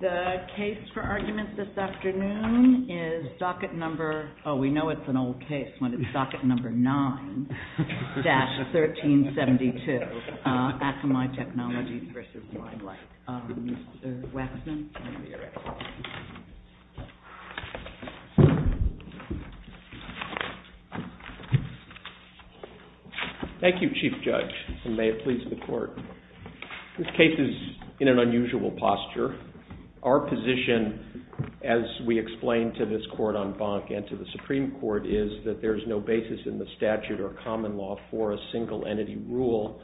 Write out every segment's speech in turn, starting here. The case for argument this afternoon is docket number 9-1372, Akamai Technologies v. Limelight. Mr. Waxman, you may be ready. Thank you, Chief Judge, and may it please the Court. This case is in an unusual posture. Our position, as we explained to this Court on Bank and to the Supreme Court, is that there is no basis in the statute or common law for a single-entity rule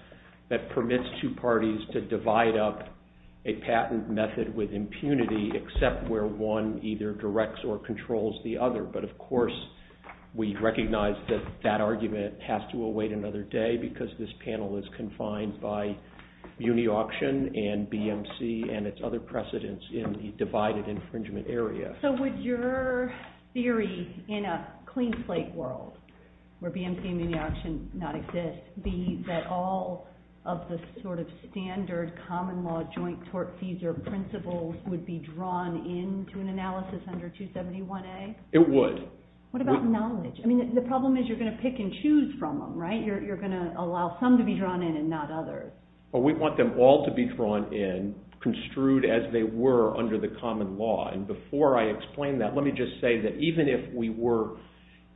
that permits two parties to divide up a patent method with impunity except where one either directs or controls the other. But, of course, we recognize that that argument has to await another day because this panel is confined by munioction and BMC and its other precedents in the divided infringement area. So would your theory in a clean slate world where BMC and munioction not exist be that all of the sort of standard common law joint tort fees or principles would be drawn into an analysis under 271A? It would. What about knowledge? I mean, the problem is you're going to pick and choose from them, right? You're going to allow some to be drawn in and not others. We want them all to be drawn in, construed as they were under the common law. And before I explain that, let me just say that even if we were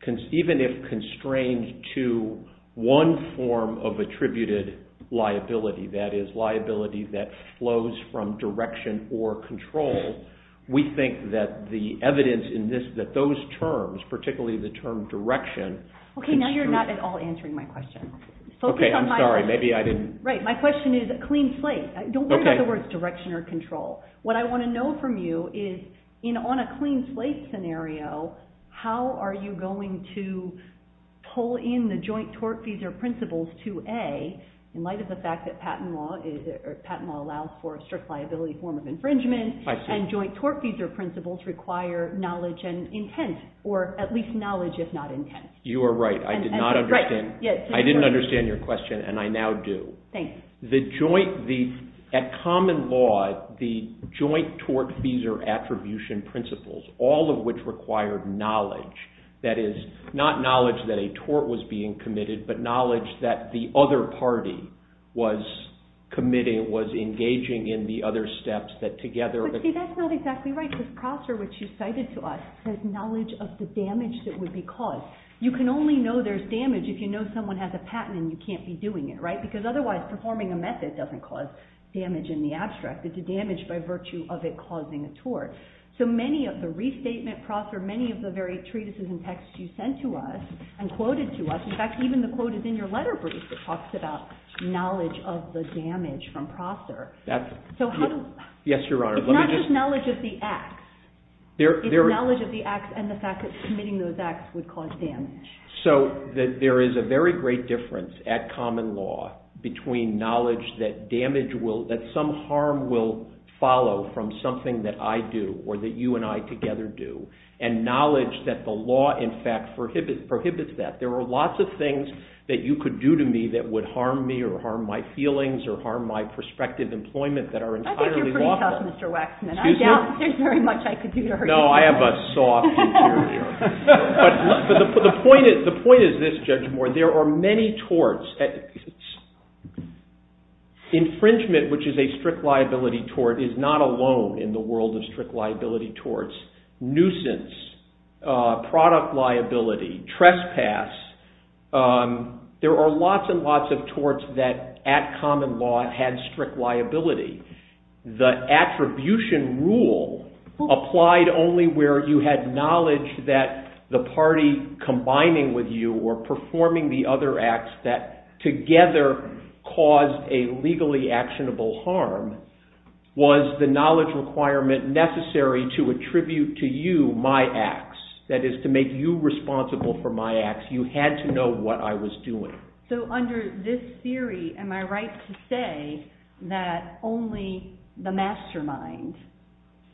constrained to one form of attributed liability, that is, liability that flows from direction or control, we think that the evidence in this, that those terms, particularly the term direction, Okay, now you're not at all answering my question. Okay, I'm sorry. Maybe I didn't. Right. My question is clean slate. Don't worry about the words direction or control. What I want to know from you is on a clean slate scenario, how are you going to pull in the joint tort fees or principles to A in light of the fact that patent law allows for a strict liability form of infringement and joint tort fees or principles require knowledge and intent or at least knowledge if not intent? You are right. I did not understand. I didn't understand your question and I now do. Thanks. The joint, at common law, the joint tort fees or attribution principles, all of which require knowledge, that is, not knowledge that a tort was being committed, but knowledge that the other party was committing, was engaging in the other steps that together. But see, that's not exactly right. Because Prosser, which you cited to us, has knowledge of the damage that would be caused. You can only know there's damage if you know someone has a patent and you can't be doing it, right? Because otherwise performing a method doesn't cause damage in the abstract. It's a damage by virtue of it causing a tort. So many of the restatement, Prosser, many of the very treatises and texts you sent to us and quoted to us, in fact, even the quote is in your letter brief that talks about knowledge of the damage from Prosser. Yes, Your Honor. It's not just knowledge of the acts. It's knowledge of the acts and the fact that committing those acts would cause damage. So there is a very great difference at common law between knowledge that damage will, that some harm will follow from something that I do or that you and I together do, and knowledge that the law, in fact, prohibits that. There are lots of things that you could do to me that would harm me or harm my feelings or harm my prospective employment that are entirely lawful. Well, Mr. Waxman, I doubt there's very much I could do to hurt you. No, I have a soft interior. But the point is this, Judge Moore. There are many torts. Infringement, which is a strict liability tort, is not alone in the world of strict liability torts. Nuisance, product liability, trespass. There are lots and lots of torts that at common law had strict liability. The attribution rule applied only where you had knowledge that the party combining with you or performing the other acts that together caused a legally actionable harm was the knowledge requirement necessary to attribute to you my acts. That is, to make you responsible for my acts. You had to know what I was doing. So under this theory, am I right to say that only the mastermind,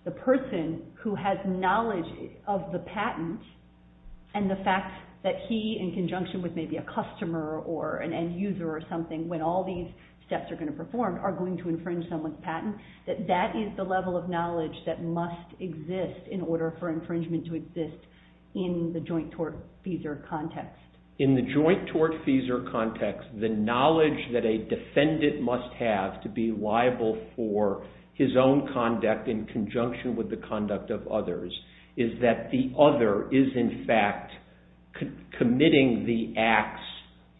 the person who has knowledge of the patent and the fact that he, in conjunction with maybe a customer or an end user or something, when all these steps are going to perform, are going to infringe someone's patent, that that is the level of knowledge that must exist in order for infringement to exist in the joint tort-feasor context? In the joint tort-feasor context, the knowledge that a defendant must have to be liable for his own conduct in conjunction with the conduct of others is that the other is in fact committing the acts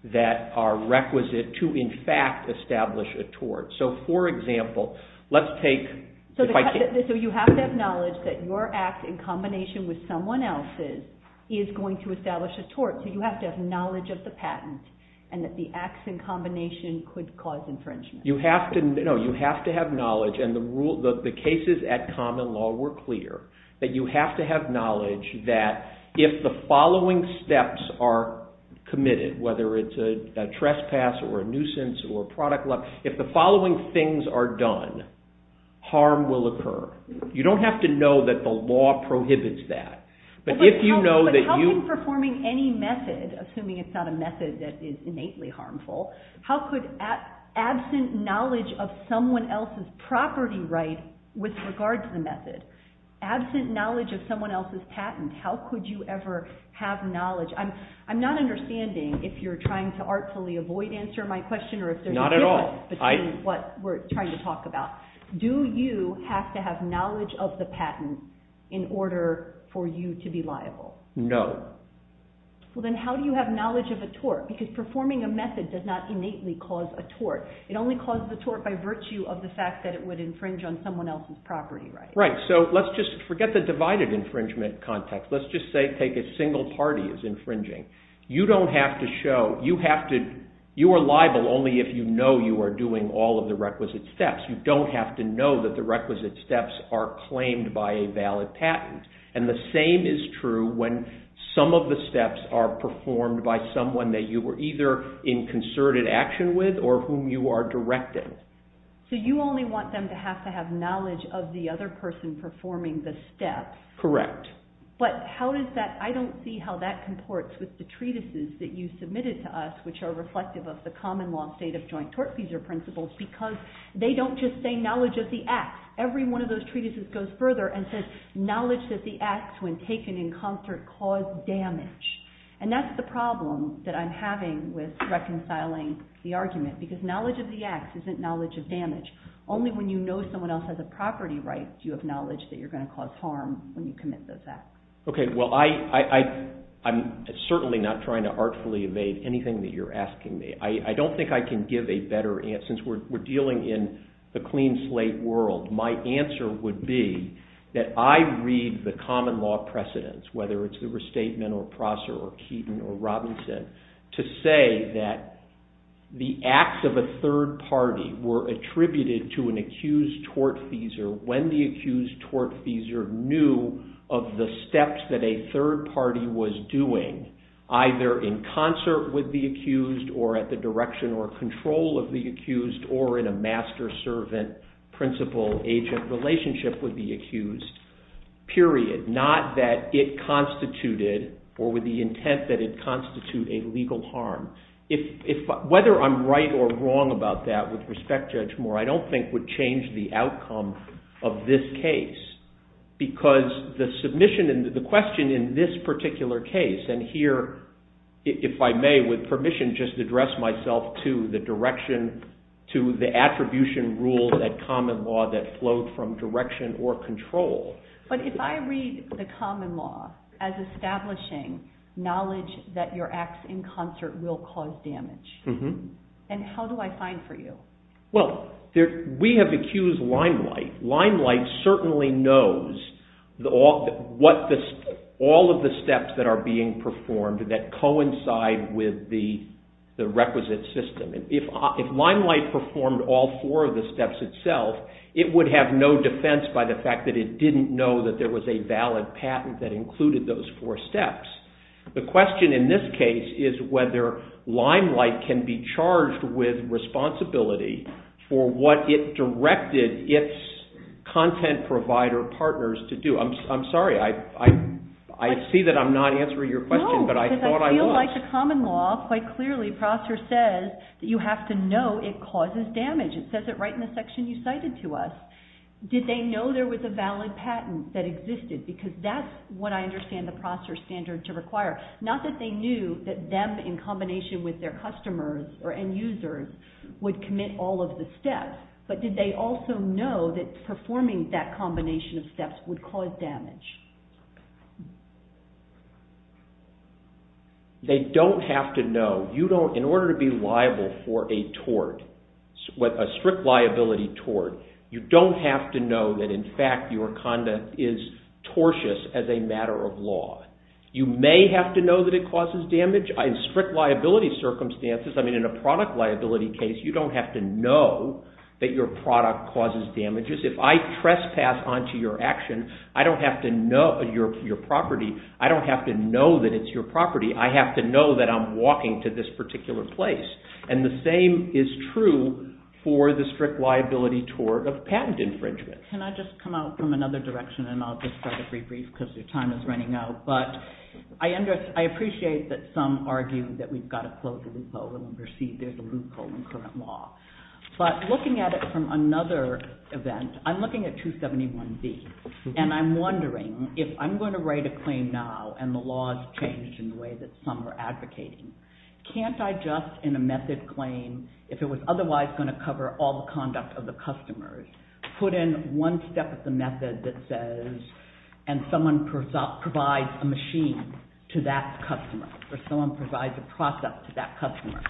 that are requisite to in fact establish a tort. So for example, let's take... So you have to have knowledge that your act in combination with someone else's is going to establish a tort, so you have to have knowledge of the patent and that the acts in combination could cause infringement. You have to have knowledge, and the cases at common law were clear, that you have to have knowledge that if the following steps are committed, whether it's a trespass or a nuisance or a product... If the following things are done, harm will occur. You don't have to know that the law prohibits that. But how can performing any method, assuming it's not a method that is innately harmful, how could absent knowledge of someone else's property right with regard to the method, absent knowledge of someone else's patent, how could you ever have knowledge? I'm not understanding if you're trying to artfully avoid answering my question or if there's a difference between what we're trying to talk about. Do you have to have knowledge of the patent in order for you to be liable? No. Well, then how do you have knowledge of a tort? Because performing a method does not innately cause a tort. It only causes a tort by virtue of the fact that it would infringe on someone else's property right. Right. So let's just forget the divided infringement context. Let's just take a single party as infringing. You don't have to show... You are liable only if you know you are doing all of the requisite steps. You don't have to know that the requisite steps are claimed by a valid patent. And the same is true when some of the steps are performed by someone that you were either in concerted action with or whom you are directing. So you only want them to have to have knowledge of the other person performing the step. Correct. But how does that... I don't see how that comports with the treatises that you submitted to us which are reflective of the common law state of joint tortfeasor principles because they don't just say knowledge of the acts. Every one of those treatises goes further and says knowledge of the acts when taken in concert cause damage. And that's the problem that I'm having with reconciling the argument because knowledge of the acts isn't knowledge of damage. Only when you know someone else has a property right do you have knowledge that you're going to cause harm when you commit those acts. Okay. Well, I'm certainly not trying to artfully evade anything that you're asking me. I don't think I can give a better answer. Since we're dealing in the clean slate world, my answer would be that I read the common law precedents, whether it's the restatement or Prosser or Keaton or Robinson, to say that the acts of a third party were attributed to an accused tortfeasor when the accused tortfeasor knew of the steps that a third party was doing either in concert with the accused or at the direction or control of the accused or in a master-servant, principal-agent relationship with the accused, period. Not that it constituted or with the intent that it constitute a legal harm. Whether I'm right or wrong about that with respect, Judge Moore, I don't think would change the outcome of this case because the question in this particular case and here, if I may, with permission, just address myself to the attribution rules at common law that flowed from direction or control. But if I read the common law as establishing knowledge that your acts in concert will cause damage, then how do I find for you? Well, we have accused Limelight. Limelight certainly knows all of the steps that are being performed that coincide with the requisite system. If Limelight performed all four of the steps itself, it would have no defense by the fact that it didn't know that there was a valid patent that included those four steps. The question in this case is whether Limelight can be charged with responsibility for what it directed its content provider partners to do. I'm sorry, I see that I'm not answering your question, but I thought I was. No, because I feel like the common law quite clearly, Prosser says that you have to know it causes damage. It says it right in the section you cited to us. Did they know there was a valid patent that existed? Because that's what I understand the Prosser standard to require. Not that they knew that them in combination with their customers or end users would commit all of the steps, but did they also know that performing that combination of steps would cause damage? They don't have to know. In order to be liable for a tort, a strict liability tort, you don't have to know that, in fact, your conduct is tortious as a matter of law. You may have to know that it causes damage. In strict liability circumstances, I mean in a product liability case, you don't have to know that your product causes damages. If I trespass onto your action, I don't have to know your property. I don't have to know that it's your property. I have to know that I'm walking to this particular place. And the same is true for the strict liability tort of patent infringement. Can I just come out from another direction, and I'll just start a brief brief because your time is running out. But I appreciate that some argue that we've got to close the loophole and perceive there's a loophole in current law. But looking at it from another event, I'm looking at 271B, and I'm wondering if I'm going to write a claim now and the law has changed in the way that some are advocating, can't I just, in a method claim, if it was otherwise going to cover all the conduct of the customers, put in one step of the method that says, and someone provides a machine to that customer, or someone provides a process to that customer,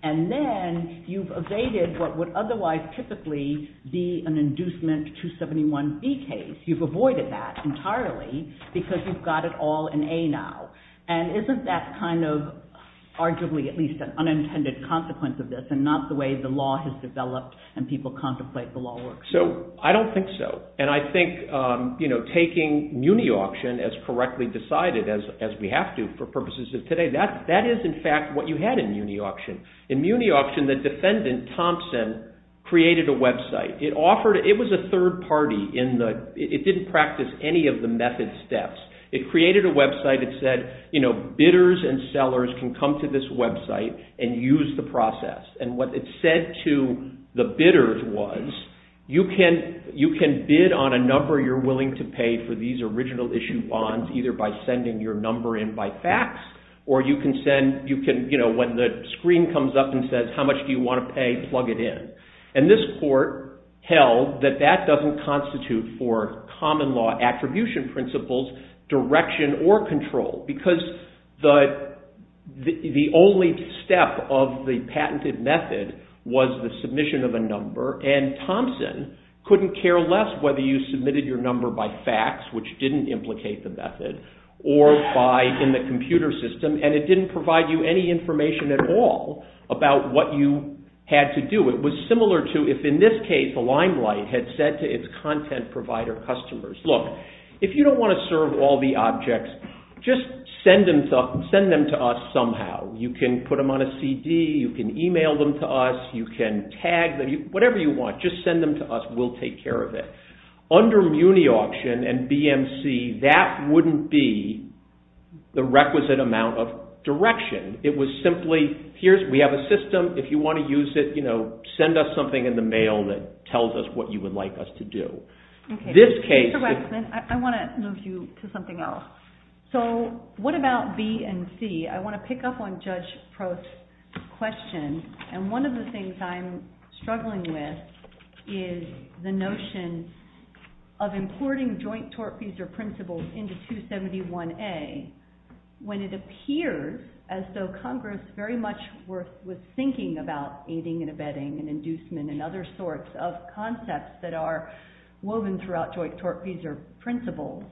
and then you've evaded what would otherwise typically be an inducement 271B case. You've avoided that entirely because you've got it all in A now. And isn't that kind of arguably at least an unintended consequence of this and not the way the law has developed and people contemplate the law works? So I don't think so. And I think taking Muni Auction as correctly decided, as we have to for purposes of today, that is in fact what you had in Muni Auction. In Muni Auction, the defendant, Thompson, created a website. It was a third party. It didn't practice any of the method steps. It created a website. It said bidders and sellers can come to this website and use the process. And what it said to the bidders was, you can bid on a number you're willing to pay for these original issue bonds, either by sending your number in by fax, or when the screen comes up and says, how much do you want to pay, plug it in. And this court held that that doesn't constitute for common law attribution principles direction or control because the only step of the patented method was the submission of a number. And Thompson couldn't care less whether you submitted your number by fax, which didn't implicate the method, or in the computer system. And it didn't provide you any information at all about what you had to do. It was similar to if, in this case, the Limelight had said to its content provider customers, look, if you don't want to serve all the objects, just send them to us somehow. You can put them on a CD, you can email them to us, you can tag them, whatever you want, just send them to us, we'll take care of it. Under MuniAuction and BMC, that wouldn't be the requisite amount of direction. It was simply, we have a system, if you want to use it, send us something in the mail that tells us what you would like us to do. Mr. Waxman, I want to move you to something else. So what about B and C? I want to pick up on Judge Prost's question. And one of the things I'm struggling with is the notion of importing joint tortfeasor principles into 271A when it appears as though Congress very much was thinking about aiding and abetting and inducement and other sorts of concepts that are woven throughout joint tortfeasor principles.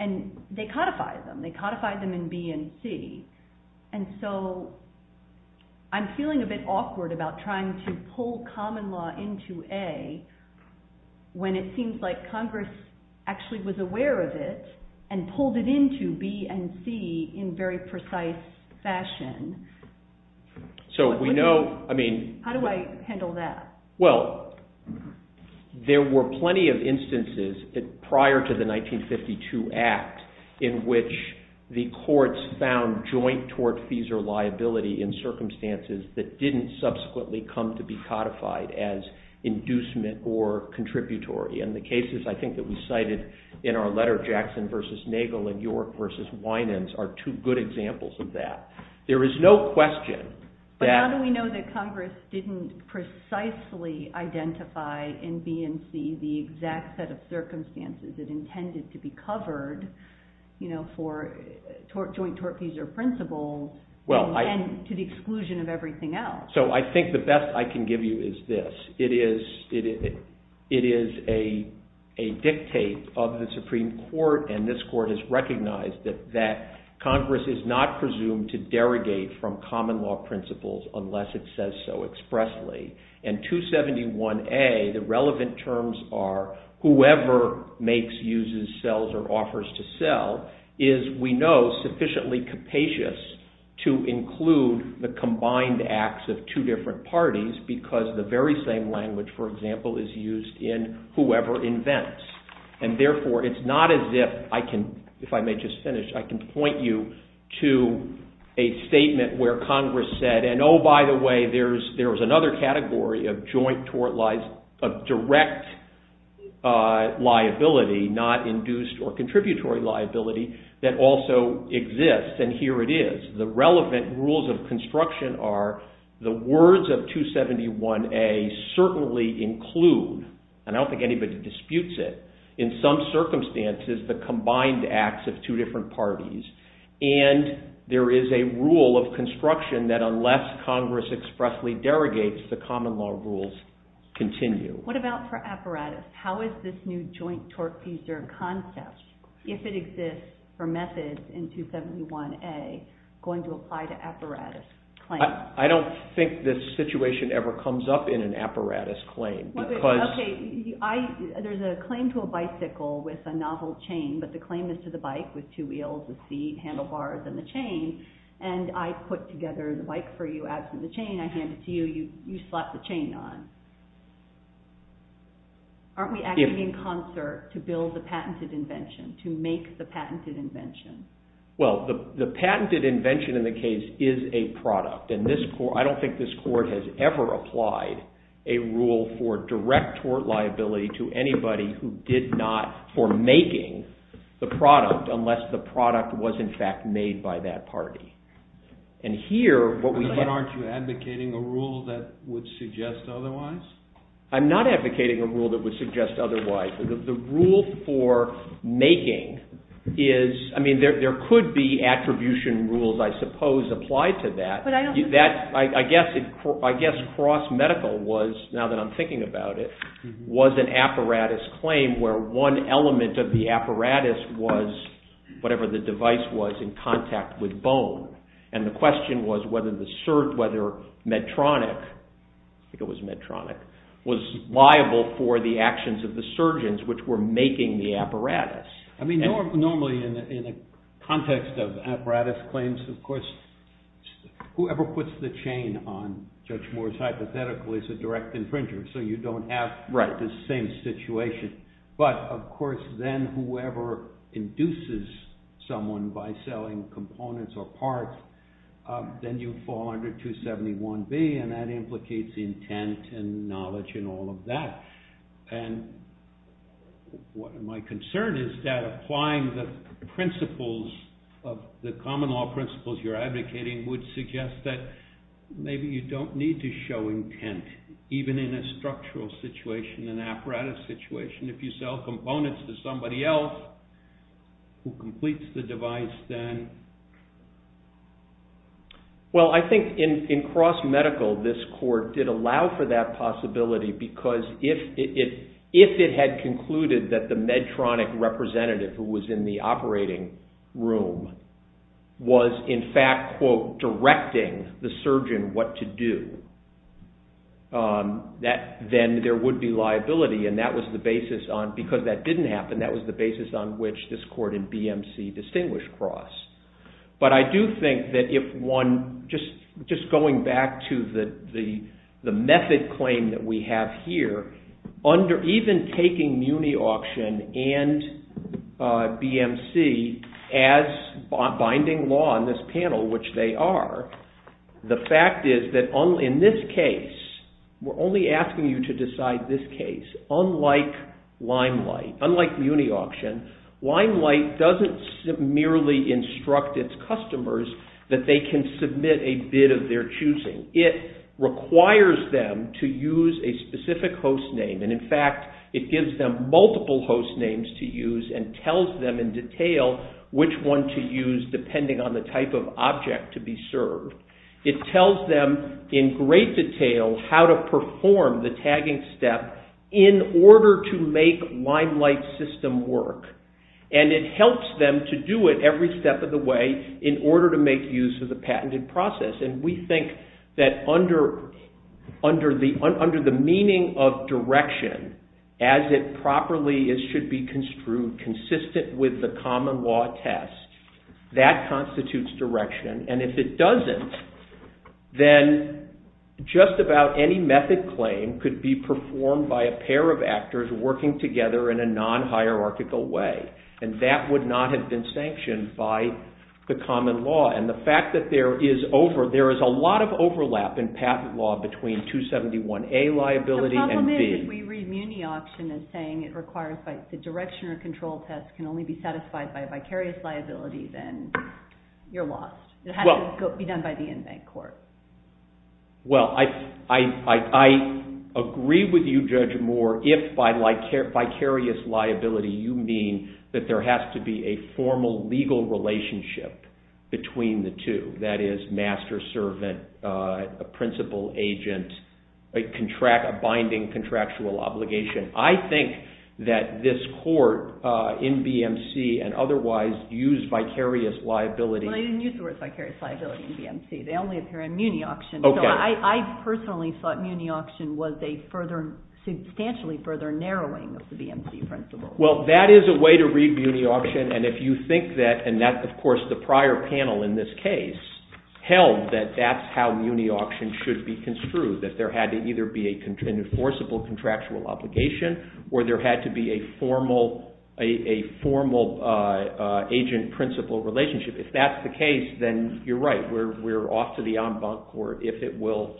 And they codify them, they codify them in B and C. And so I'm feeling a bit awkward about trying to pull common law into A when it seems like Congress actually was aware of it and pulled it into B and C in very precise fashion. So we know, I mean... How do I handle that? Well, there were plenty of instances prior to the 1952 Act in which the courts found joint tortfeasor liability in circumstances that didn't subsequently come to be codified as inducement or contributory. And the cases, I think, that we cited in our letter, Jackson v. Nagel and York v. Winans, are two good examples of that. There is no question that... in B and C the exact set of circumstances that intended to be covered for joint tortfeasor principles and to the exclusion of everything else. So I think the best I can give you is this. It is a dictate of the Supreme Court, and this Court has recognized that Congress is not presumed to derogate from common law principles unless it says so expressly. And 271A, the relevant terms are whoever makes, uses, sells, or offers to sell is, we know, sufficiently capacious to include the combined acts of two different parties because the very same language, for example, is used in whoever invents. And therefore, it's not as if I can, if I may just finish, I can point you to a statement where Congress said, And, oh, by the way, there's another category of joint tort liability, of direct liability, not induced or contributory liability, that also exists. And here it is. The relevant rules of construction are the words of 271A certainly include, and I don't think anybody disputes it, in some circumstances, the combined acts of two different parties. And there is a rule of construction that unless Congress expressly derogates, the common law rules continue. What about for apparatus? How is this new joint tort user concept, if it exists for methods in 271A, going to apply to apparatus claims? I don't think this situation ever comes up in an apparatus claim. There's a claim to a bicycle with a novel chain, but the claim is to the bike with two wheels, the seat, handlebars, and the chain. And I put together the bike for you, absent the chain, I hand it to you, you slap the chain on. Aren't we acting in concert to build the patented invention, to make the patented invention? Well, the patented invention in the case is a product. And I don't think this court has ever applied a rule for direct tort liability to anybody who makes the product, unless the product was in fact made by that party. And here, what we have. But aren't you advocating a rule that would suggest otherwise? I'm not advocating a rule that would suggest otherwise. The rule for making is, I mean, there could be attribution rules, I suppose, applied to that. But I don't think that. I guess cross medical was, now that I'm thinking about it, was an apparatus claim where one element of the apparatus was whatever the device was in contact with bone. And the question was whether Medtronic, I think it was Medtronic, was liable for the actions of the surgeons which were making the apparatus. I mean, normally in the context of apparatus claims, of course, whoever puts the chain on Judge Moore's hypothetical is a direct infringer. So you don't have the same situation. But of course, then whoever induces someone by selling components or parts, then you fall under 271B. And that implicates intent and knowledge and all of that. And my concern is that applying the principles, the common law principles you're advocating would suggest that maybe you don't need to show intent, even in a structural situation, an apparatus situation. If you sell components to somebody else who completes the device, then. Well, I think in cross medical, this court did allow for that possibility. Because if it had concluded that the Medtronic representative who was in the operating room was, in fact, quote, directing the surgeon what to do, that then there would be liability. And because that didn't happen, that was the basis on which this court in BMC distinguished cross. But I do think that if one, just going back to the method claim that we have here, even taking Muni Auction and BMC as binding law in this panel, which they are, the fact is that in this case, we're only asking you to decide this case. Unlike Limelight, unlike Muni Auction, Limelight doesn't merely instruct its customers that they can submit a bid of their choosing. It requires them to use a specific host name. And in fact, it gives them multiple host names to use and tells them in detail which one to use, depending on the type of object to be served. It tells them in great detail how to perform the tagging step in order to make Limelight's system work. And it helps them to do it every step of the way in order to make use of the patented process. And we think that under the meaning of direction, as it properly should be construed, consistent with the common law test, that constitutes direction. And if it doesn't, then just about any method claim could be performed by a pair of actors working together in a non-hierarchical way. And that would not have been sanctioned by the common law. And the fact that there is a lot of overlap in patent law between 271A liability and B. If we read Muni-Auction as saying it requires the direction or control test can only be satisfied by a vicarious liability, then you're lost. It has to be done by the inmate court. Well, I agree with you, Judge Moore, if by vicarious liability you mean that there has to be a formal legal relationship between the two. That is master-servant, a principal agent, a binding contractual obligation. I think that this court in BMC and otherwise used vicarious liability. Well, they didn't use the word vicarious liability in BMC. They only appear in Muni-Auction. I personally thought Muni-Auction was a substantially further narrowing of the BMC principle. Well, that is a way to read Muni-Auction. And if you think that, and that's, of course, the prior panel in this case, held that that's how Muni-Auction should be construed, that there had to either be an enforceable contractual obligation, or there had to be a formal agent-principal relationship. If that's the case, then you're right. We're off to the en banc court if it will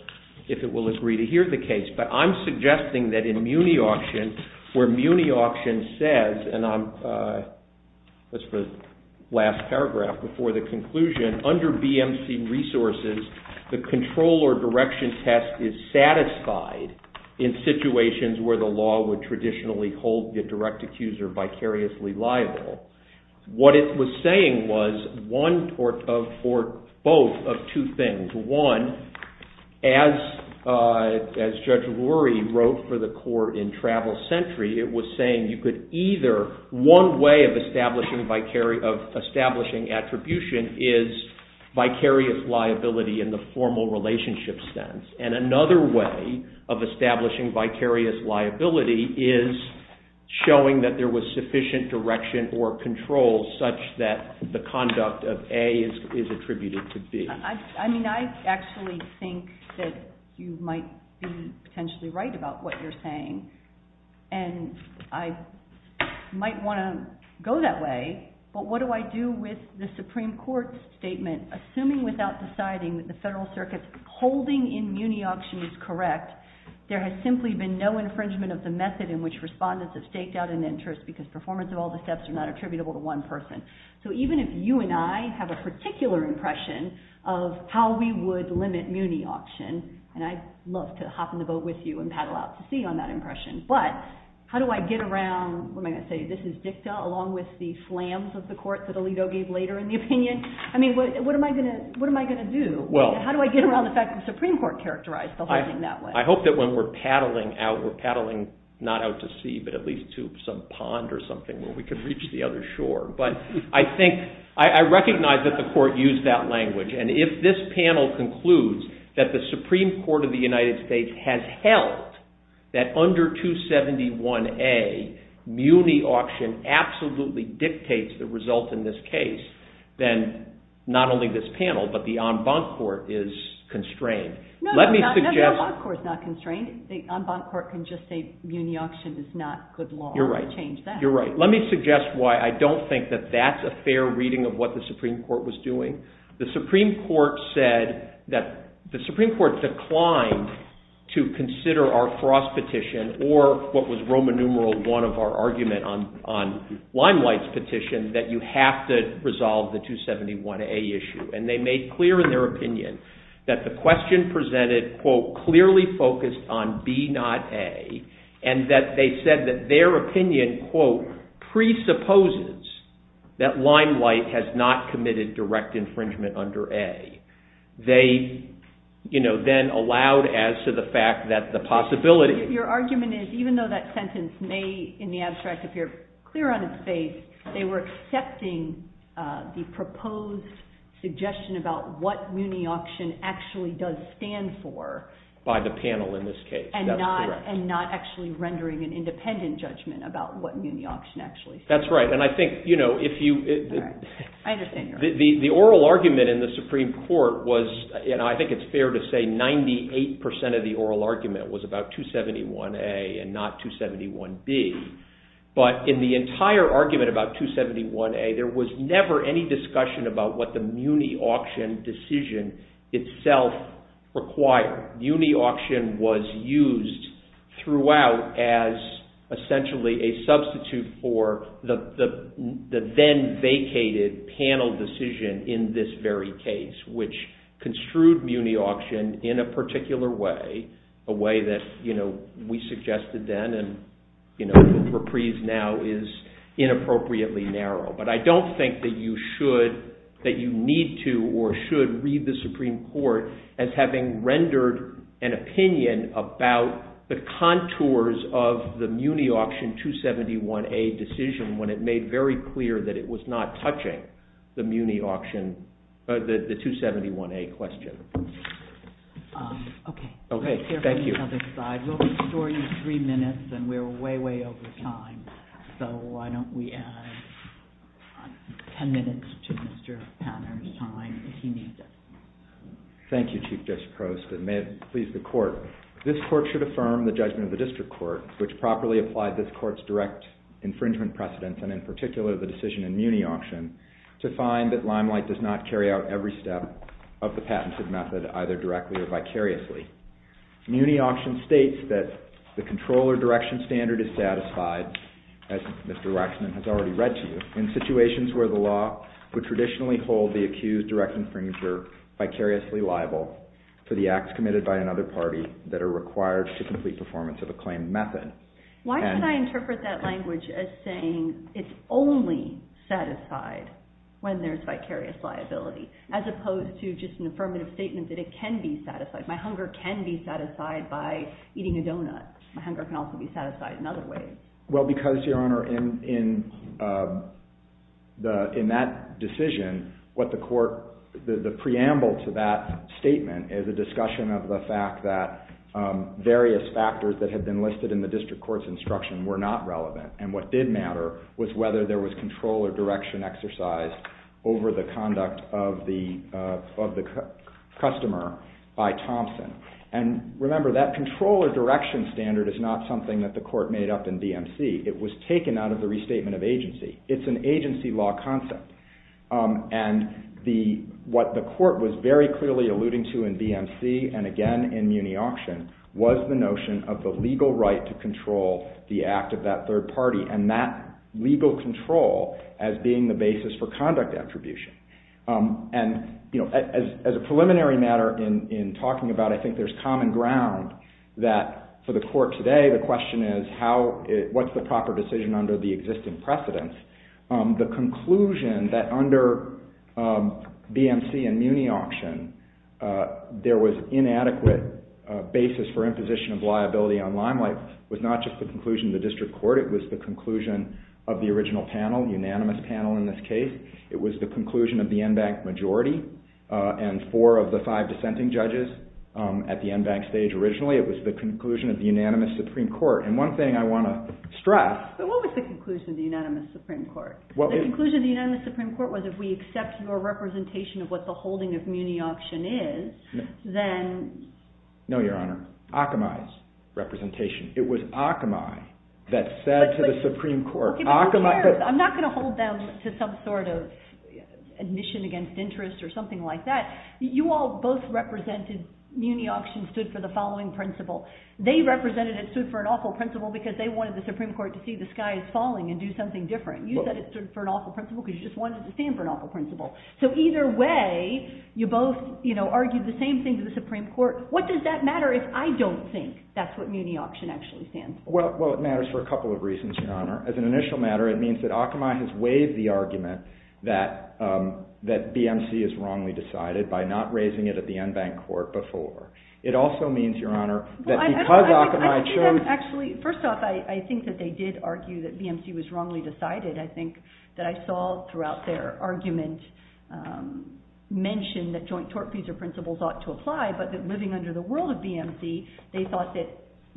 agree to hear the case. But I'm suggesting that in Muni-Auction, where Muni-Auction says, and that's the last paragraph before the conclusion, under BMC resources, the control or direction test is satisfied in situations where the law would traditionally hold the direct accused or vicariously liable. What it was saying was one or both of two things. One, as Judge Rory wrote for the court in Travel Century, it was saying you could either, one way of establishing attribution is vicarious liability in the formal relationship sense. And another way of establishing vicarious liability is showing that there was sufficient direction or control such that the conduct of A is attributed to B. I mean, I actually think that you might be potentially right about what you're saying. And I might want to go that way. But what do I do with the Supreme Court's statement, assuming without deciding that the Federal Circuit's holding in Muni-Auction is correct, there has simply been no infringement of the method in which respondents have staked out an interest because performance of all the steps are not attributable to one person. So even if you and I have a particular impression of how we would limit Muni-Auction, and I'd love to hop in the boat with you and paddle out to sea on that impression. But how do I get around, what am I going to say, this is dicta along with the slams of the court that Alito gave later in the opinion? I mean, what am I going to do? How do I get around the fact that the Supreme Court characterized the holding that way? I hope that when we're paddling out, we're paddling not out to sea, but at least to some pond or something where we can reach the other shore. But I recognize that the court used that language. And if this panel concludes that the Supreme Court of the United States has held that under 271A, Muni-Auction absolutely dictates the result in this case, then not only this panel, but the en banc court is constrained. No, the en banc court is not constrained. The en banc court can just say Muni-Auction is not good law and change that. You're right. Let me suggest why I don't think that that's a fair reading of what the Supreme Court was doing. The Supreme Court said that the Supreme Court declined to consider our cross petition or what was Roman numeral one of our argument on Limelight's petition that you have to resolve the 271A issue. And they made clear in their opinion that the question presented, quote, clearly focused on B, not A. And that they said that their opinion, quote, presupposes that Limelight has not committed direct infringement under A. They then allowed as to the fact that the possibility. Your argument is even though that sentence may, in the abstract, appear clear on its face, they were accepting the proposed suggestion about what Muni-Auction actually does stand for. By the panel in this case. That's correct. And not actually rendering an independent judgment about what Muni-Auction actually stands for. That's right. I understand your argument. The oral argument in the Supreme Court was, and I think it's fair to say, 98% of the oral argument was about 271A and not 271B. But in the entire argument about 271A, there was never any discussion about what the Muni-Auction decision itself required. Muni-Auction was used throughout as essentially a substitute for the then vacated panel decision in this very case, which construed Muni-Auction in a particular way. A way that we suggested then and reprise now is inappropriately narrow. But I don't think that you need to or should read the Supreme Court as having rendered an opinion about the contours of the Muni-Auction 271A decision when it made very clear that it was not touching the Muni-Auction, the 271A question. OK. Thank you. We'll restore you three minutes. And we're way, way over time. So why don't we add 10 minutes to Mr. Panner's time if he needs it. Thank you, Chief Justice Prost. And may it please the Court, this Court should affirm the judgment of the District Court, which properly applied this Court's direct infringement precedents, and in particular, the decision in Muni-Auction, to find that Limelight does not carry out every step of the patented method either directly or vicariously. Muni-Auction states that the controller direction standard is satisfied, as Mr. Waxman has already read to you, in situations where the law would traditionally hold the accused direct infringer vicariously liable for the acts committed by another party that are required to complete performance of a claimed method. Why should I interpret that language as saying it's only satisfied when there's vicarious liability, as opposed to just an affirmative statement that it can be satisfied. My hunger can be satisfied by eating a donut. My hunger can also be satisfied in other ways. Well, because, Your Honor, in that decision, what the Court, the preamble to that statement is a discussion of the fact that various factors that had been listed in the District Court's instruction were not relevant. And what did matter was whether there was controller direction exercised over the conduct of the customer by Thompson. And remember, that controller direction standard is not something that the Court made up in DMC. It was taken out of the restatement of agency. It's an agency law concept. And what the Court was very clearly alluding to in DMC, and again in Muni Auction, was the notion of the legal right to control the act of that third party, and that legal control as being the basis for conduct attribution. And as a preliminary matter in talking about it, I think there's common ground that for the Court today, the question is, what's the proper decision under the existing precedents? The conclusion that under DMC and Muni Auction, there was inadequate basis for imposition of liability on limelight was not just the conclusion of the District Court. It was the conclusion of the original panel, unanimous panel in this case. It was the conclusion of the en banc majority, and four of the five dissenting judges at the en banc stage originally. It was the conclusion of the unanimous Supreme Court. And one thing I want to stress. But what was the conclusion of the unanimous Supreme Court? The conclusion of the unanimous Supreme Court was if we accept your representation of what the holding of Muni Auction is, then. No, Your Honor. Akamai's representation. It was Akamai that said to the Supreme Court. I'm not going to hold them to some sort of admission against interest or something like that. You all both represented Muni Auction stood for the following principle. They represented it stood for an awful principle because they wanted the Supreme Court to see the sky is falling and do something different. You said it stood for an awful principle because you just wanted it to stand for an awful principle. So either way, you both argued the same thing to the Supreme Court. What does that matter if I don't think that's what Muni Auction actually stands for? Well, it matters for a couple of reasons, Your Honor. As an initial matter, it means that Akamai has waived the argument that BMC is wrongly decided by not raising it at the en banc court before. It also means, Your Honor, that because Akamai chose. Actually, first off, I think that they did argue that BMC was wrongly decided. I think that I saw throughout their argument mention that joint tort fees or principles ought to apply but that living under the world of BMC, they thought that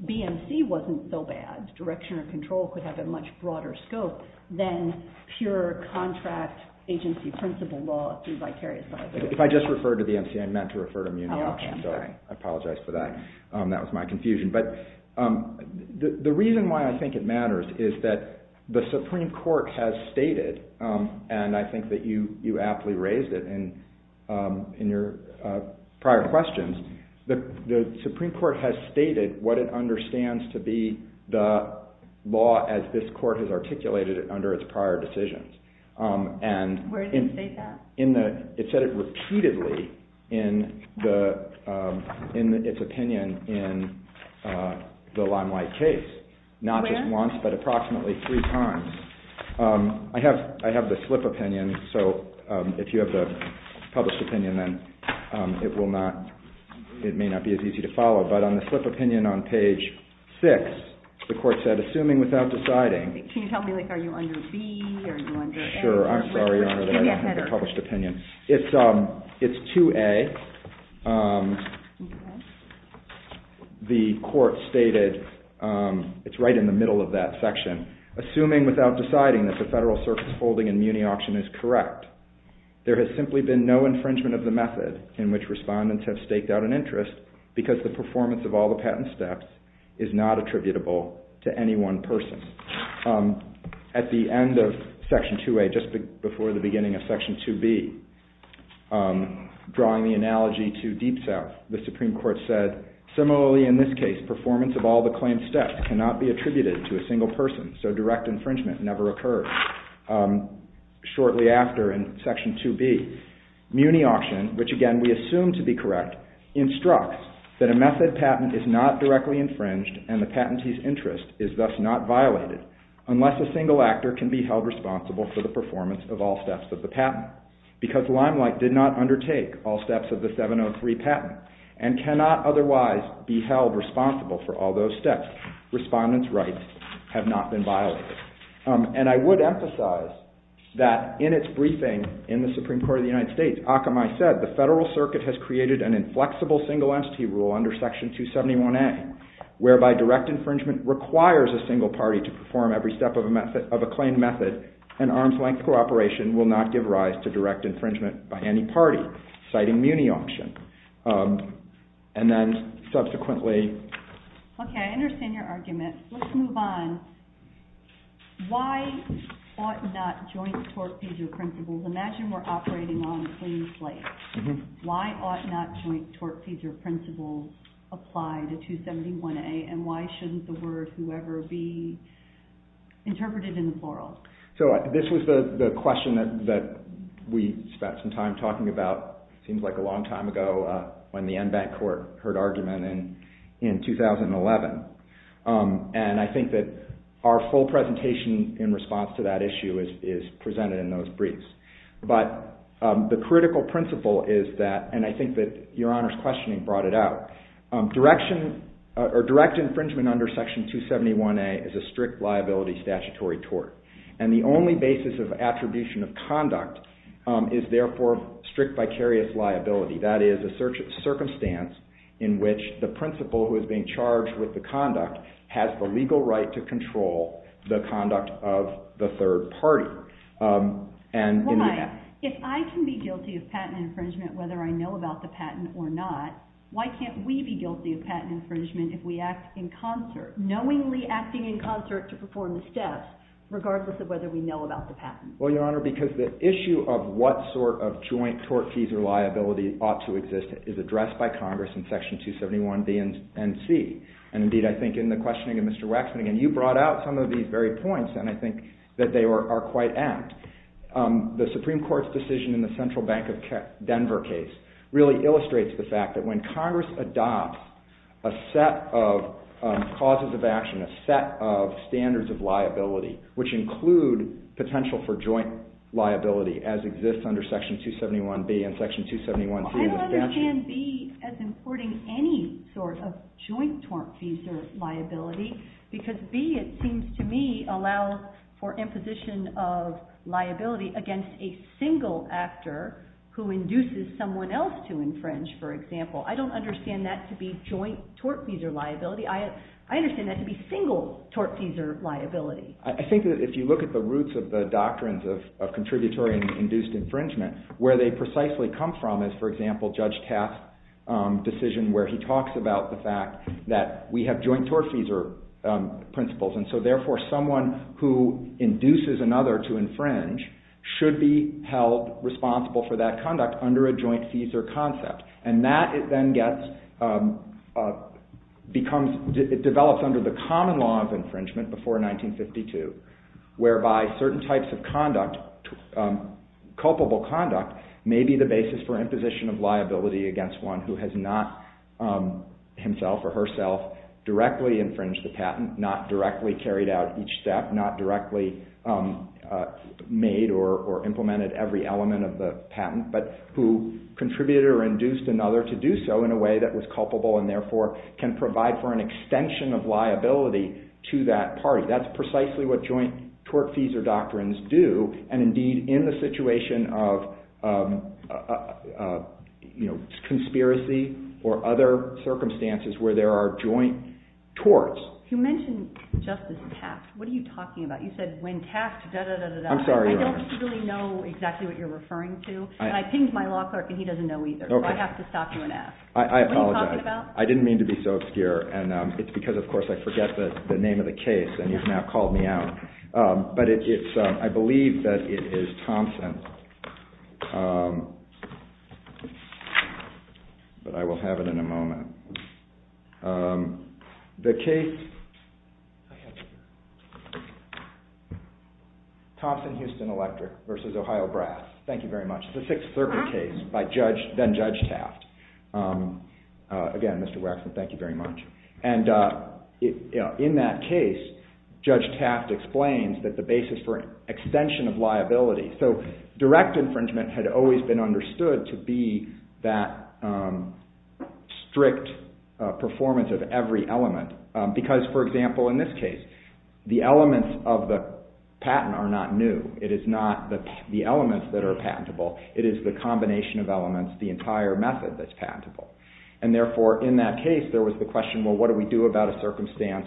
BMC wasn't so bad. Direction or control could have a much broader scope than pure contract agency principle law through vicarious liability. If I just referred to BMC, I meant to refer to Muni Auction. I apologize for that. That was my confusion. But the reason why I think it matters is that the Supreme Court has stated, and I think that you aptly raised it in your prior questions, the Supreme Court has stated what it understands to be the law as this court has articulated it under its prior decisions. Where did it state that? It said it repeatedly in its opinion in the Limelight case. Not just once, but approximately three times. I have the slip opinion, so if you have the published opinion, then it may not be as easy to follow. But on the slip opinion on page 6, the court said, assuming without deciding... Can you tell me, are you under B or are you under A? I'm sorry, Your Honor, that I don't have the published opinion. It's 2A. The court stated, it's right in the middle of that section, assuming without deciding that the Federal Circus holding in Muni Auction is correct, there has simply been no infringement of the method in which respondents have staked out an interest because the performance of all the patent steps is not attributable to any one person. At the end of Section 2A, just before the beginning of Section 2B, drawing the analogy to Deep South, the Supreme Court said, similarly in this case, performance of all the claim steps cannot be attributed to a single person, so direct infringement never occurred. Shortly after in Section 2B, Muni Auction, which again we assume to be correct, instructs that a method patent is not directly infringed and the patentee's interest is thus not violated unless a single actor can be held responsible for the performance of all steps of the patent. Because Limelight did not undertake all steps of the 703 patent and cannot otherwise be held responsible for all those steps, respondents' rights have not been violated. And I would emphasize that in its briefing in the Supreme Court of the United States, Akamai said, the Federal Circuit has created an inflexible single entity rule under Section 271A whereby direct infringement requires a single party to perform every step of a claim method and arm's length cooperation will not give rise to direct infringement by any party, citing Muni Auction. And then subsequently... Okay, I understand your argument. Let's move on. Why ought not joint tortfeasor principles... Imagine we're operating on a clean slate. Why ought not joint tortfeasor principles apply to 271A, and why shouldn't the word whoever be interpreted in the plural? So this was the question that we spent some time talking about, it seems like a long time ago, when the en banc court heard argument in 2011. And I think that our full presentation in response to that issue is presented in those briefs. But the critical principle is that, and I think that Your Honor's questioning brought it out, direct infringement under Section 271A is a strict liability statutory tort. And the only basis of attribution of conduct is therefore strict vicarious liability. That is a circumstance in which the principal who is being charged with the conduct has the legal right to control the conduct of the third party. Why, if I can be guilty of patent infringement whether I know about the patent or not, why can't we be guilty of patent infringement if we act in concert, knowingly acting in concert to perform the steps, regardless of whether we know about the patent? Well, Your Honor, because the issue of what sort of joint tortfeasor liability ought to exist is addressed by Congress in Section 271B and C. And indeed, I think in the questioning of Mr. Waxman, and you brought out some of these very points, and I think that they are quite apt. The Supreme Court's decision in the Central Bank of Denver case really illustrates the fact that when Congress adopts a set of causes of action, a set of standards of liability, which include potential for joint liability as exists under Section 271B and Section 271C. I don't understand B as importing any sort of joint tortfeasor liability because B, it seems to me, allows for imposition of liability against a single actor who induces someone else to infringe, for example. I don't understand that to be joint tortfeasor liability. I understand that to be single tortfeasor liability. I think that if you look at the roots of the doctrines of contributory and induced infringement, where they precisely come from is, for example, Judge Taft's decision where he talks about the fact that we have joint tortfeasor principles. And so, therefore, someone who induces another to infringe should be held responsible for that conduct under a joint feasor concept. And that, it then gets, it develops under the common law of infringement before 1952, whereby certain types of conduct, culpable conduct, may be the basis for imposition of liability against one who has not himself or herself directly infringed the patent, not directly carried out each step, not directly made or implemented every element of the patent, but who contributed or induced another to do so in a way that was culpable and, therefore, can provide for an extension of liability to that party. That's precisely what joint tortfeasor doctrines do. And, indeed, in the situation of conspiracy or other circumstances where there are joint torts... You mentioned Justice Taft. What are you talking about? You said, when Taft... I'm sorry, Your Honor. I don't really know exactly what you're referring to, and I pinged my law clerk and he doesn't know either, so I have to stop you and ask. I apologize. I didn't mean to be so obscure, and it's because, of course, I forget the name of the case and he's now called me out. I believe that it is Thompson... But I will have it in a moment. The case... Thompson-Houston Electric v. Ohio Brass. Thank you very much. It's a Sixth Circuit case, then Judge Taft. Again, Mr. Waxman, thank you very much. In that case, Judge Taft explains that the basis for extension of liability... Direct infringement had always been understood to be that strict performance of every element because, for example, in this case, the elements of the patent are not new. It is not the elements that are patentable. It is the combination of elements, the entire method that's patentable. Therefore, in that case, there was the question, well, what do we do about a circumstance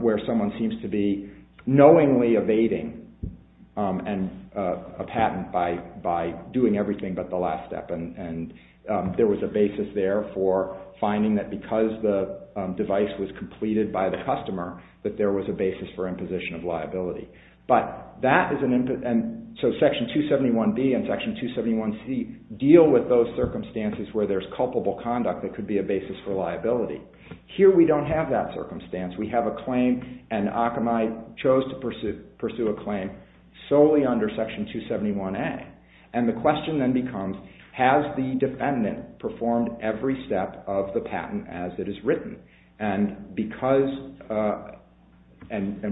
where someone seems to be knowingly evading a patent by doing everything but the last step? There was a basis there for finding that because the device was completed by the customer that there was a basis for imposition of liability. Section 271B and Section 271C deal with those circumstances where there's culpable conduct that could be a basis for liability. Here, we don't have that circumstance. We have a claim, and Akamai chose to pursue a claim solely under Section 271A. The question then becomes, has the defendant performed every step of the patent as it is written?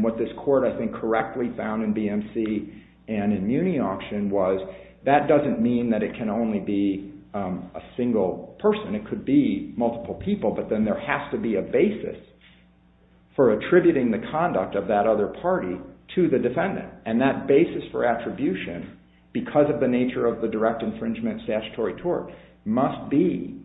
What this court, I think, correctly found in BMC and in Muni Auction was that doesn't mean that it can only be a single person. It could be multiple people, but then there has to be a basis for attributing the conduct of that other party to the defendant. That basis for attribution, because of the nature of the direct infringement statutory tort, must be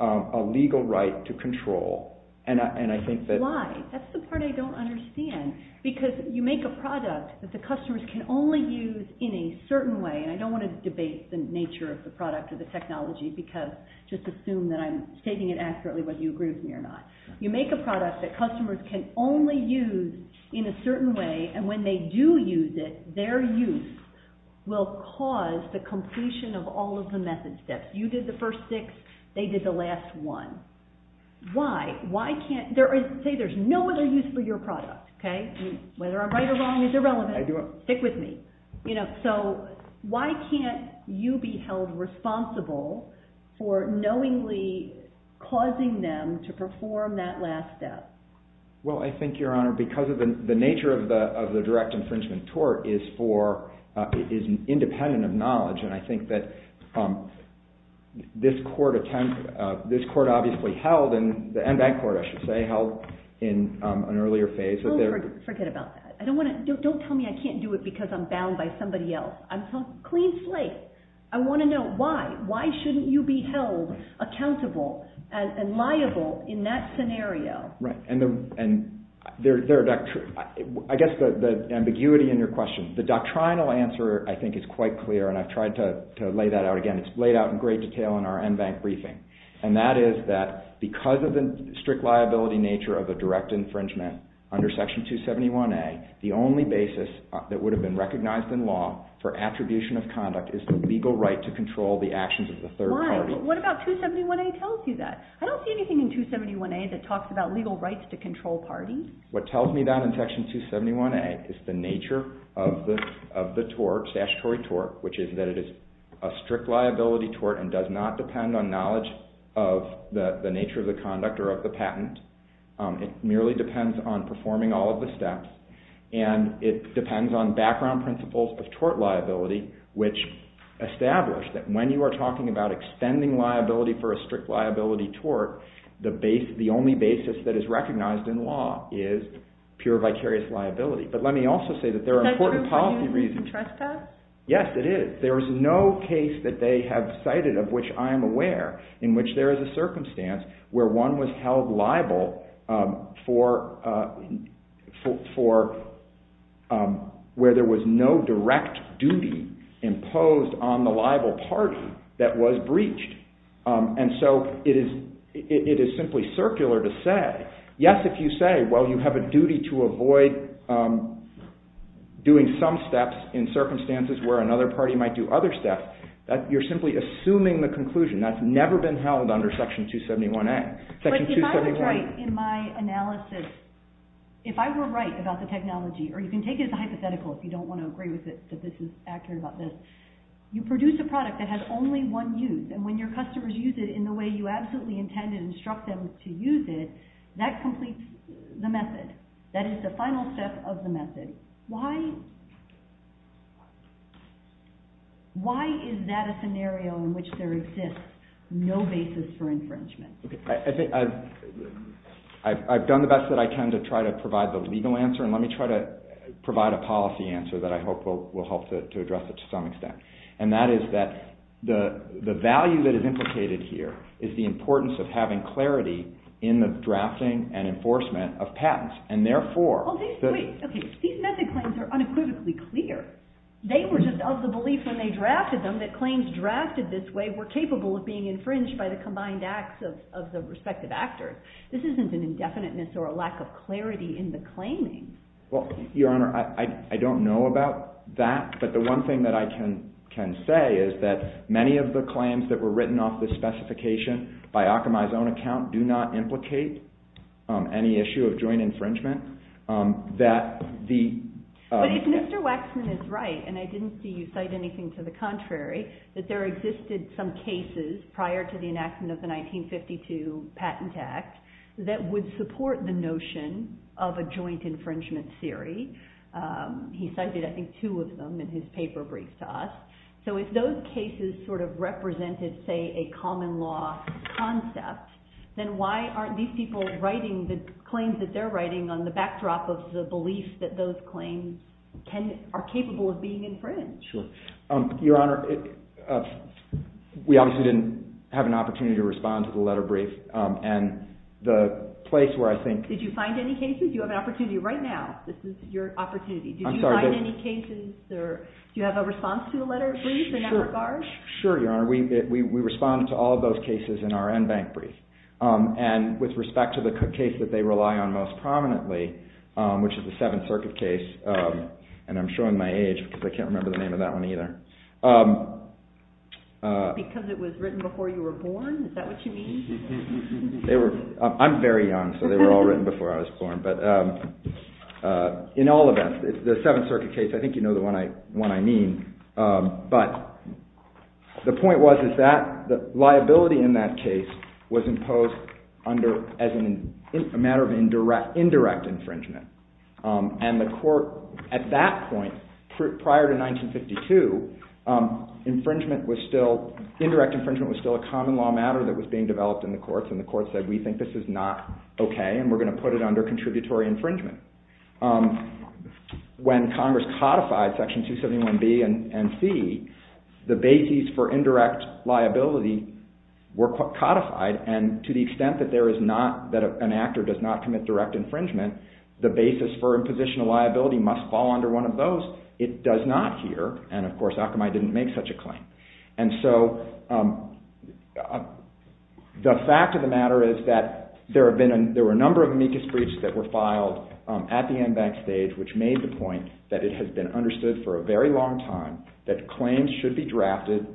a legal right to control. Why? That's the part I don't understand. Because you make a product that the customers can only use in a certain way, and I don't want to debate the nature of the product or the technology, because just assume that I'm stating it accurately whether you agree with me or not. You make a product that customers can only use in a certain way, and when they do use it, their use will cause the completion of all of the method steps. You did the first six, they did the last one. Why? Say there's no other use for your product. Whether I'm right or wrong is irrelevant. Stick with me. Why can't you be held responsible for knowingly causing them to perform that last step? Because of the nature of the direct infringement tort is independent of knowledge, and I think that this court obviously held, and that court, I should say, held in an earlier phase. Don't tell me I can't do it because I'm bound by somebody else. I'm a clean slate. I want to know why. Why shouldn't you be held accountable and liable in that scenario? I guess the ambiguity in your question, the doctrinal answer I think is quite clear, and I've tried to lay that out again. It's laid out in great detail in our NBank briefing, and that is that because of the strict liability nature of the direct infringement under Section 271A, the only basis that would have been recognized in law for attribution of conduct is the legal right to control the actions of the third party. Why? What about 271A tells you that? I don't see anything in 271A that talks about legal rights to control parties. What tells me that in Section 271A is the nature of the tort, statutory tort, which is that it is a strict liability tort and does not depend on knowledge of the nature of the conduct or of the patent. It merely depends on performing all of the steps, and it depends on background principles of tort liability, which establish that when you are talking about extending liability for a strict liability tort, the only basis that is recognized in law is pure vicarious liability. But let me also say that there are important policy reasons. Yes, it is. There is no case that they have cited, of which I am aware, in which there is a circumstance where one was held liable for where there was no direct duty imposed on the liable party that was breached. And so it is simply circular to say, yes, if you say, well, you have a duty to avoid doing some steps in circumstances where another party might do other steps, you are simply assuming the conclusion. That has never been held under Section 271A. But if I was right in my analysis, if I were right about the technology, or you can take it as a hypothetical if you don't want to agree with it that this is accurate about this, you produce a product that has only one use. And when your customers use it in the way you absolutely intended and instruct them to use it, that completes the method. That is the final step of the method. Why is that a scenario in which there exists no basis for infringement? I have done the best that I can to try to provide the legal answer and let me try to provide a policy answer that I hope will help to address it to some extent. And that is that the value that is implicated here is the importance of having clarity in the drafting and enforcement of patents. These method claims are unequivocally clear. They were just of the belief when they drafted them that claims drafted this way were capable of being infringed by the combined acts of the respective actors. This isn't an indefiniteness or a lack of clarity in the claiming. Well, Your Honor, I don't know about that, but the one thing that I can say is that many of the claims that were written off this specification by Akamai's own account do not implicate any issue of joint infringement. But if Mr. Waxman is right, and I didn't see you cite anything to the contrary, that there existed some cases prior to the enactment of the 1952 Patent Act that would support the notion of a joint infringement theory. He cited, I think, two of them in his paper brief to us. So if those cases sort of represented, say, a common law concept, then why aren't these people writing the claims that they're writing on the backdrop of the belief that those claims are capable of being infringed? Sure. Your Honor, we obviously didn't have an opportunity to respond to the letter brief. Did you find any cases? You have an opportunity right now. Do you have a response to the letter brief in that regard? Sure, Your Honor. We responded to all of those cases in our NBank brief. And with respect to the case that they rely on most prominently, which is the Seventh Circuit case, and I'm showing my age because I can't remember the name of that one either. Because it was written before you were born? Is that what you mean? I'm very young, so they were all written before I was born. In all of them, the Seventh Circuit case, I think you know the one I mean. But the point was that the liability in that case was imposed as a matter of indirect infringement. And at that point, prior to 1952, indirect infringement was still a common law matter that was being developed in the courts. And the courts said, we think this is not okay and we're going to put it under contributory infringement. When Congress codified Section 271B and C, the bases for indirect liability were codified. And to the extent that an actor does not commit direct infringement, the basis for imposition of liability must fall under one of those. It does not here, and of course Akamai didn't make such a claim. And so, the fact of the matter is that there were a number of amicus briefs that were filed at the embanked stage, which made the point that it has been understood for a very long time that claims should be drafted,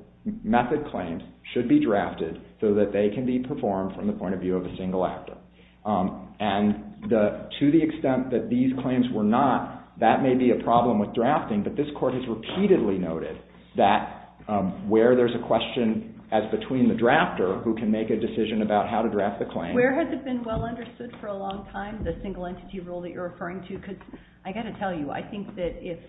method claims should be drafted, so that they can be performed from the point of view of a single actor. And to the extent that these claims were not, that may be a problem with drafting, but this court has repeatedly noted that where there's a question as between the drafter who can make a decision about how to draft the claim... Where has it been well understood for a long time, the single entity rule that you're referring to? Because I've got to tell you, I think that if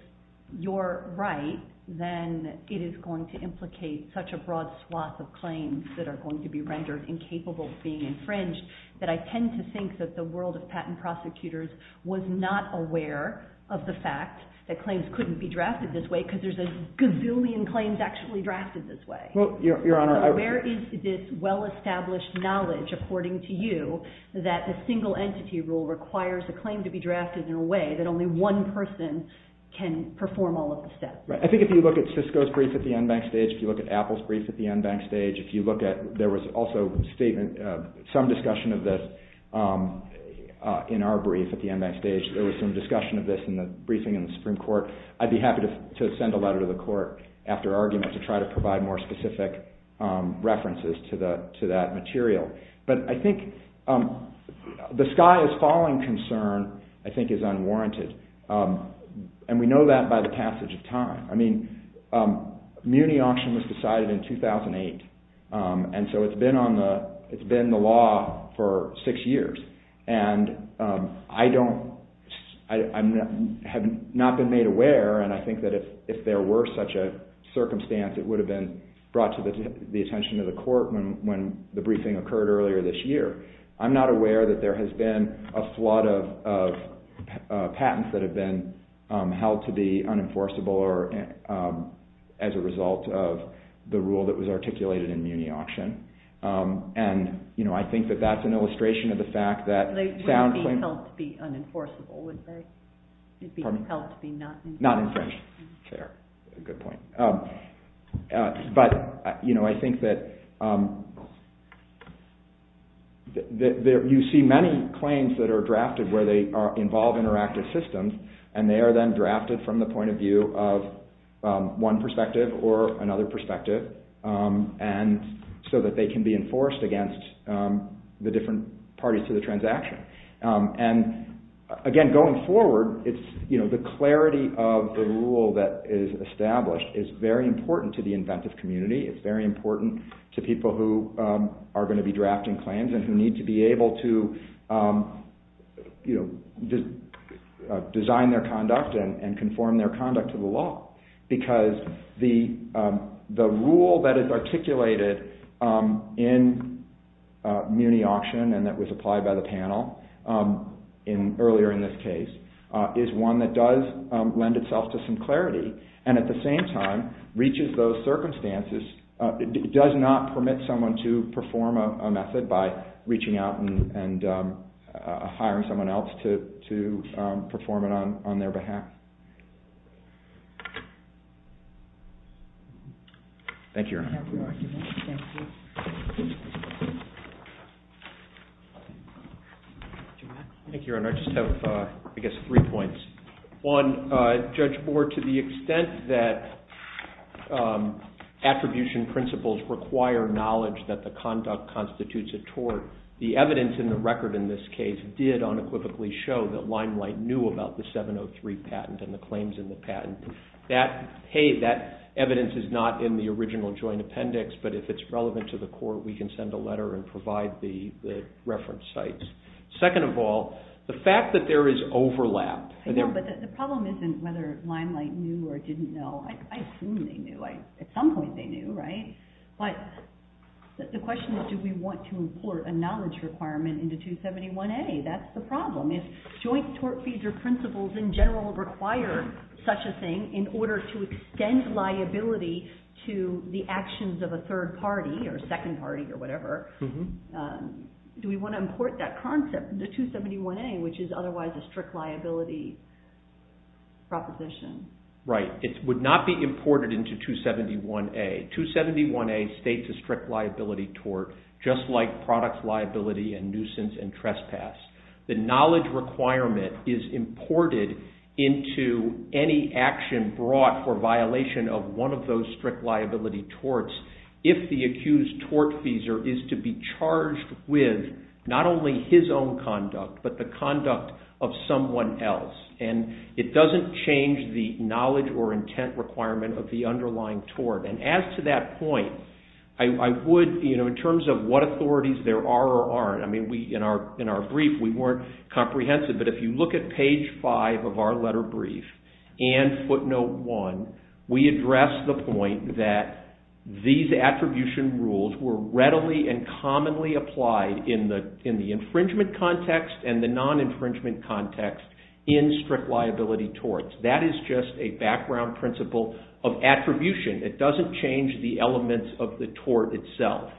you're right, then it is going to implicate such a broad swath of claims that are going to be rendered incapable of being infringed, that I tend to think that the world of patent prosecutors was not aware of the fact that claims couldn't be drafted this way, because there's a gazillion claims actually drafted this way. Where is this well-established knowledge, according to you, that the single entity rule requires a claim to be drafted in a way that only one person can perform all of the steps? I think if you look at Cisco's brief at the en banc stage, if you look at Apple's brief at the en banc stage, there was also some discussion of this in our brief at the en banc stage. There was some discussion of this in the briefing in the Supreme Court. I'd be happy to send a letter to the court after argument to try to provide more specific references to that material. But I think the sky-is-falling concern, I think, is unwarranted. And we know that by the passage of time. Muni Auction was decided in 2008, and so it's been the law for six years. And I have not been made aware, and I think that if there were such a circumstance, it would have been brought to the attention of the court when the briefing occurred earlier this year. I'm not aware that there has been a flood of patents that have been held to be unenforceable as a result of the rule that was articulated in Muni Auction. And I think that that's an illustration of the fact that... They wouldn't be held to be unenforceable, would they? They'd be held to be not infringed. Not infringed. Fair. Good point. But, you know, I think that... You see many claims that are drafted where they involve interactive systems, and they are then drafted from the point of view of one perspective or another perspective, so that they can be enforced against the different parties to the transaction. And, again, going forward, the clarity of the rule that is established is very important to the inventive community. It's very important to people who are going to be drafting claims and who need to be able to design their conduct and conform their conduct to the law, because the rule that is articulated in Muni Auction, and that was applied by the panel earlier in this case, is one that does lend itself to some clarity and, at the same time, reaches those circumstances... It does not permit someone to perform a method by reaching out and hiring someone else to perform it on their behalf. Thank you, Your Honor. Thank you. Thank you, Your Honor. I just have, I guess, three points. One, Judge Bohr, to the extent that attribution principles require knowledge that the conduct constitutes a tort, the evidence in the record in this case did unequivocally show that Limelight knew about the 703 patent and the claims in the patent. That, hey, that evidence is not in the original joint appendix, but if it's relevant to the court, we can send a letter and provide the reference sites. Second of all, the fact that there is overlap... I know, but the problem isn't whether Limelight knew or didn't know. I assume they knew. At some point they knew, right? But the question is, do we want to import a knowledge requirement into 271A? That's the problem. If joint tort fees or principles in general require such a thing in order to extend liability to the actions of a third party or second party or whatever, do we want to import that concept into 271A, which is otherwise a strict liability proposition? Right. It would not be imported into 271A. 271A states a strict liability tort, just like product liability and nuisance and trespass. The knowledge requirement is imported into any action brought for violation of one of those strict liability torts if the accused tortfeasor is to be charged with not only his own conduct, but the conduct of someone else. It doesn't change the knowledge or intent requirement of the underlying tort. As to that point, in terms of what authorities there are or aren't, I mean, in our brief we weren't comprehensive, but if you look at page five of our letter brief and footnote one, we address the point that these attribution rules were readily and commonly applied in the infringement context and the non-infringement context in strict liability torts. That is just a background principle of attribution. It doesn't change the elements of the tort itself.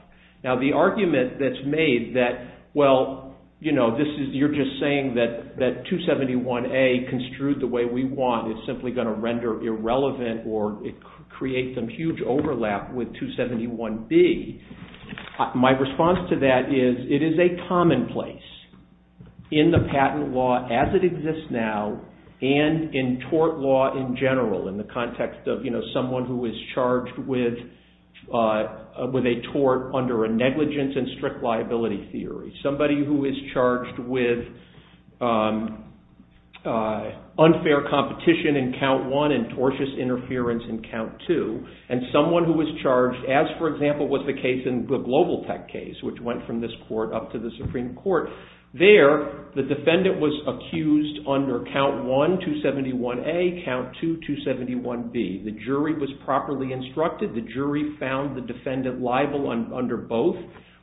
Now, the argument that's made that, well, you're just saying that 271A construed the way we want, it's simply going to render irrelevant or create some huge overlap with 271B, my response to that is it is a commonplace in the patent law as it exists now and in tort law in general in the context of someone who is charged with a tort under a negligence in strict liability theory, somebody who is charged with unfair competition in count one and tortious interference in count two, and someone who is charged as, for example, was the case in the Global Tech case, which went from this court up to the Supreme Court. There, the defendant was accused under count one, 271A, count two, 271B. The jury was properly instructed. The jury found the defendant liable under both.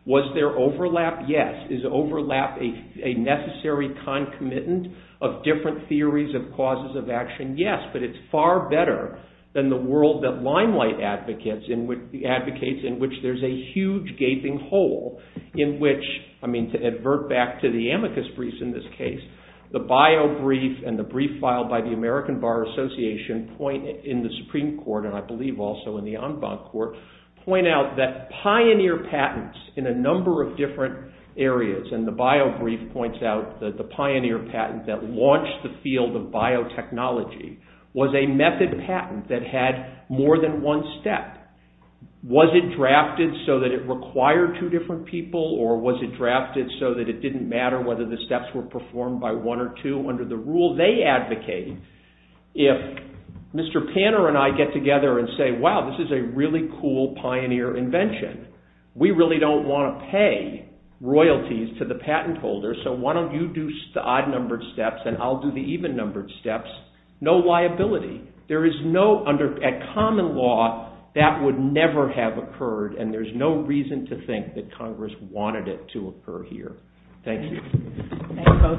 Was there overlap? Yes. Is overlap a necessary concomitant of different theories of causes of action? Yes, but it's far better than the world that Limelight advocates in which there's a huge gaping hole in which, I mean, to advert back to the amicus briefs in this case, the bio brief and the brief filed by the American Bar Association in the Supreme Court, and I believe also in the en banc court, point out that pioneer patents in a number of different areas, and the bio brief points out that the pioneer patent that launched the field of biotechnology was a method patent that had more than one step. Was it drafted so that it required two different people, or was it drafted so that it didn't matter whether the steps were performed by one or two under the rule they advocated? If Mr. Panner and I get together and say, wow, this is a really cool pioneer invention, we really don't want to pay royalties to the patent holder, so why don't you do the odd-numbered steps, and I'll do the even-numbered steps, no liability. There is no, at common law, that would never have occurred, and there's no reason to think that Congress wanted it to occur here. Thank you. Thank you both.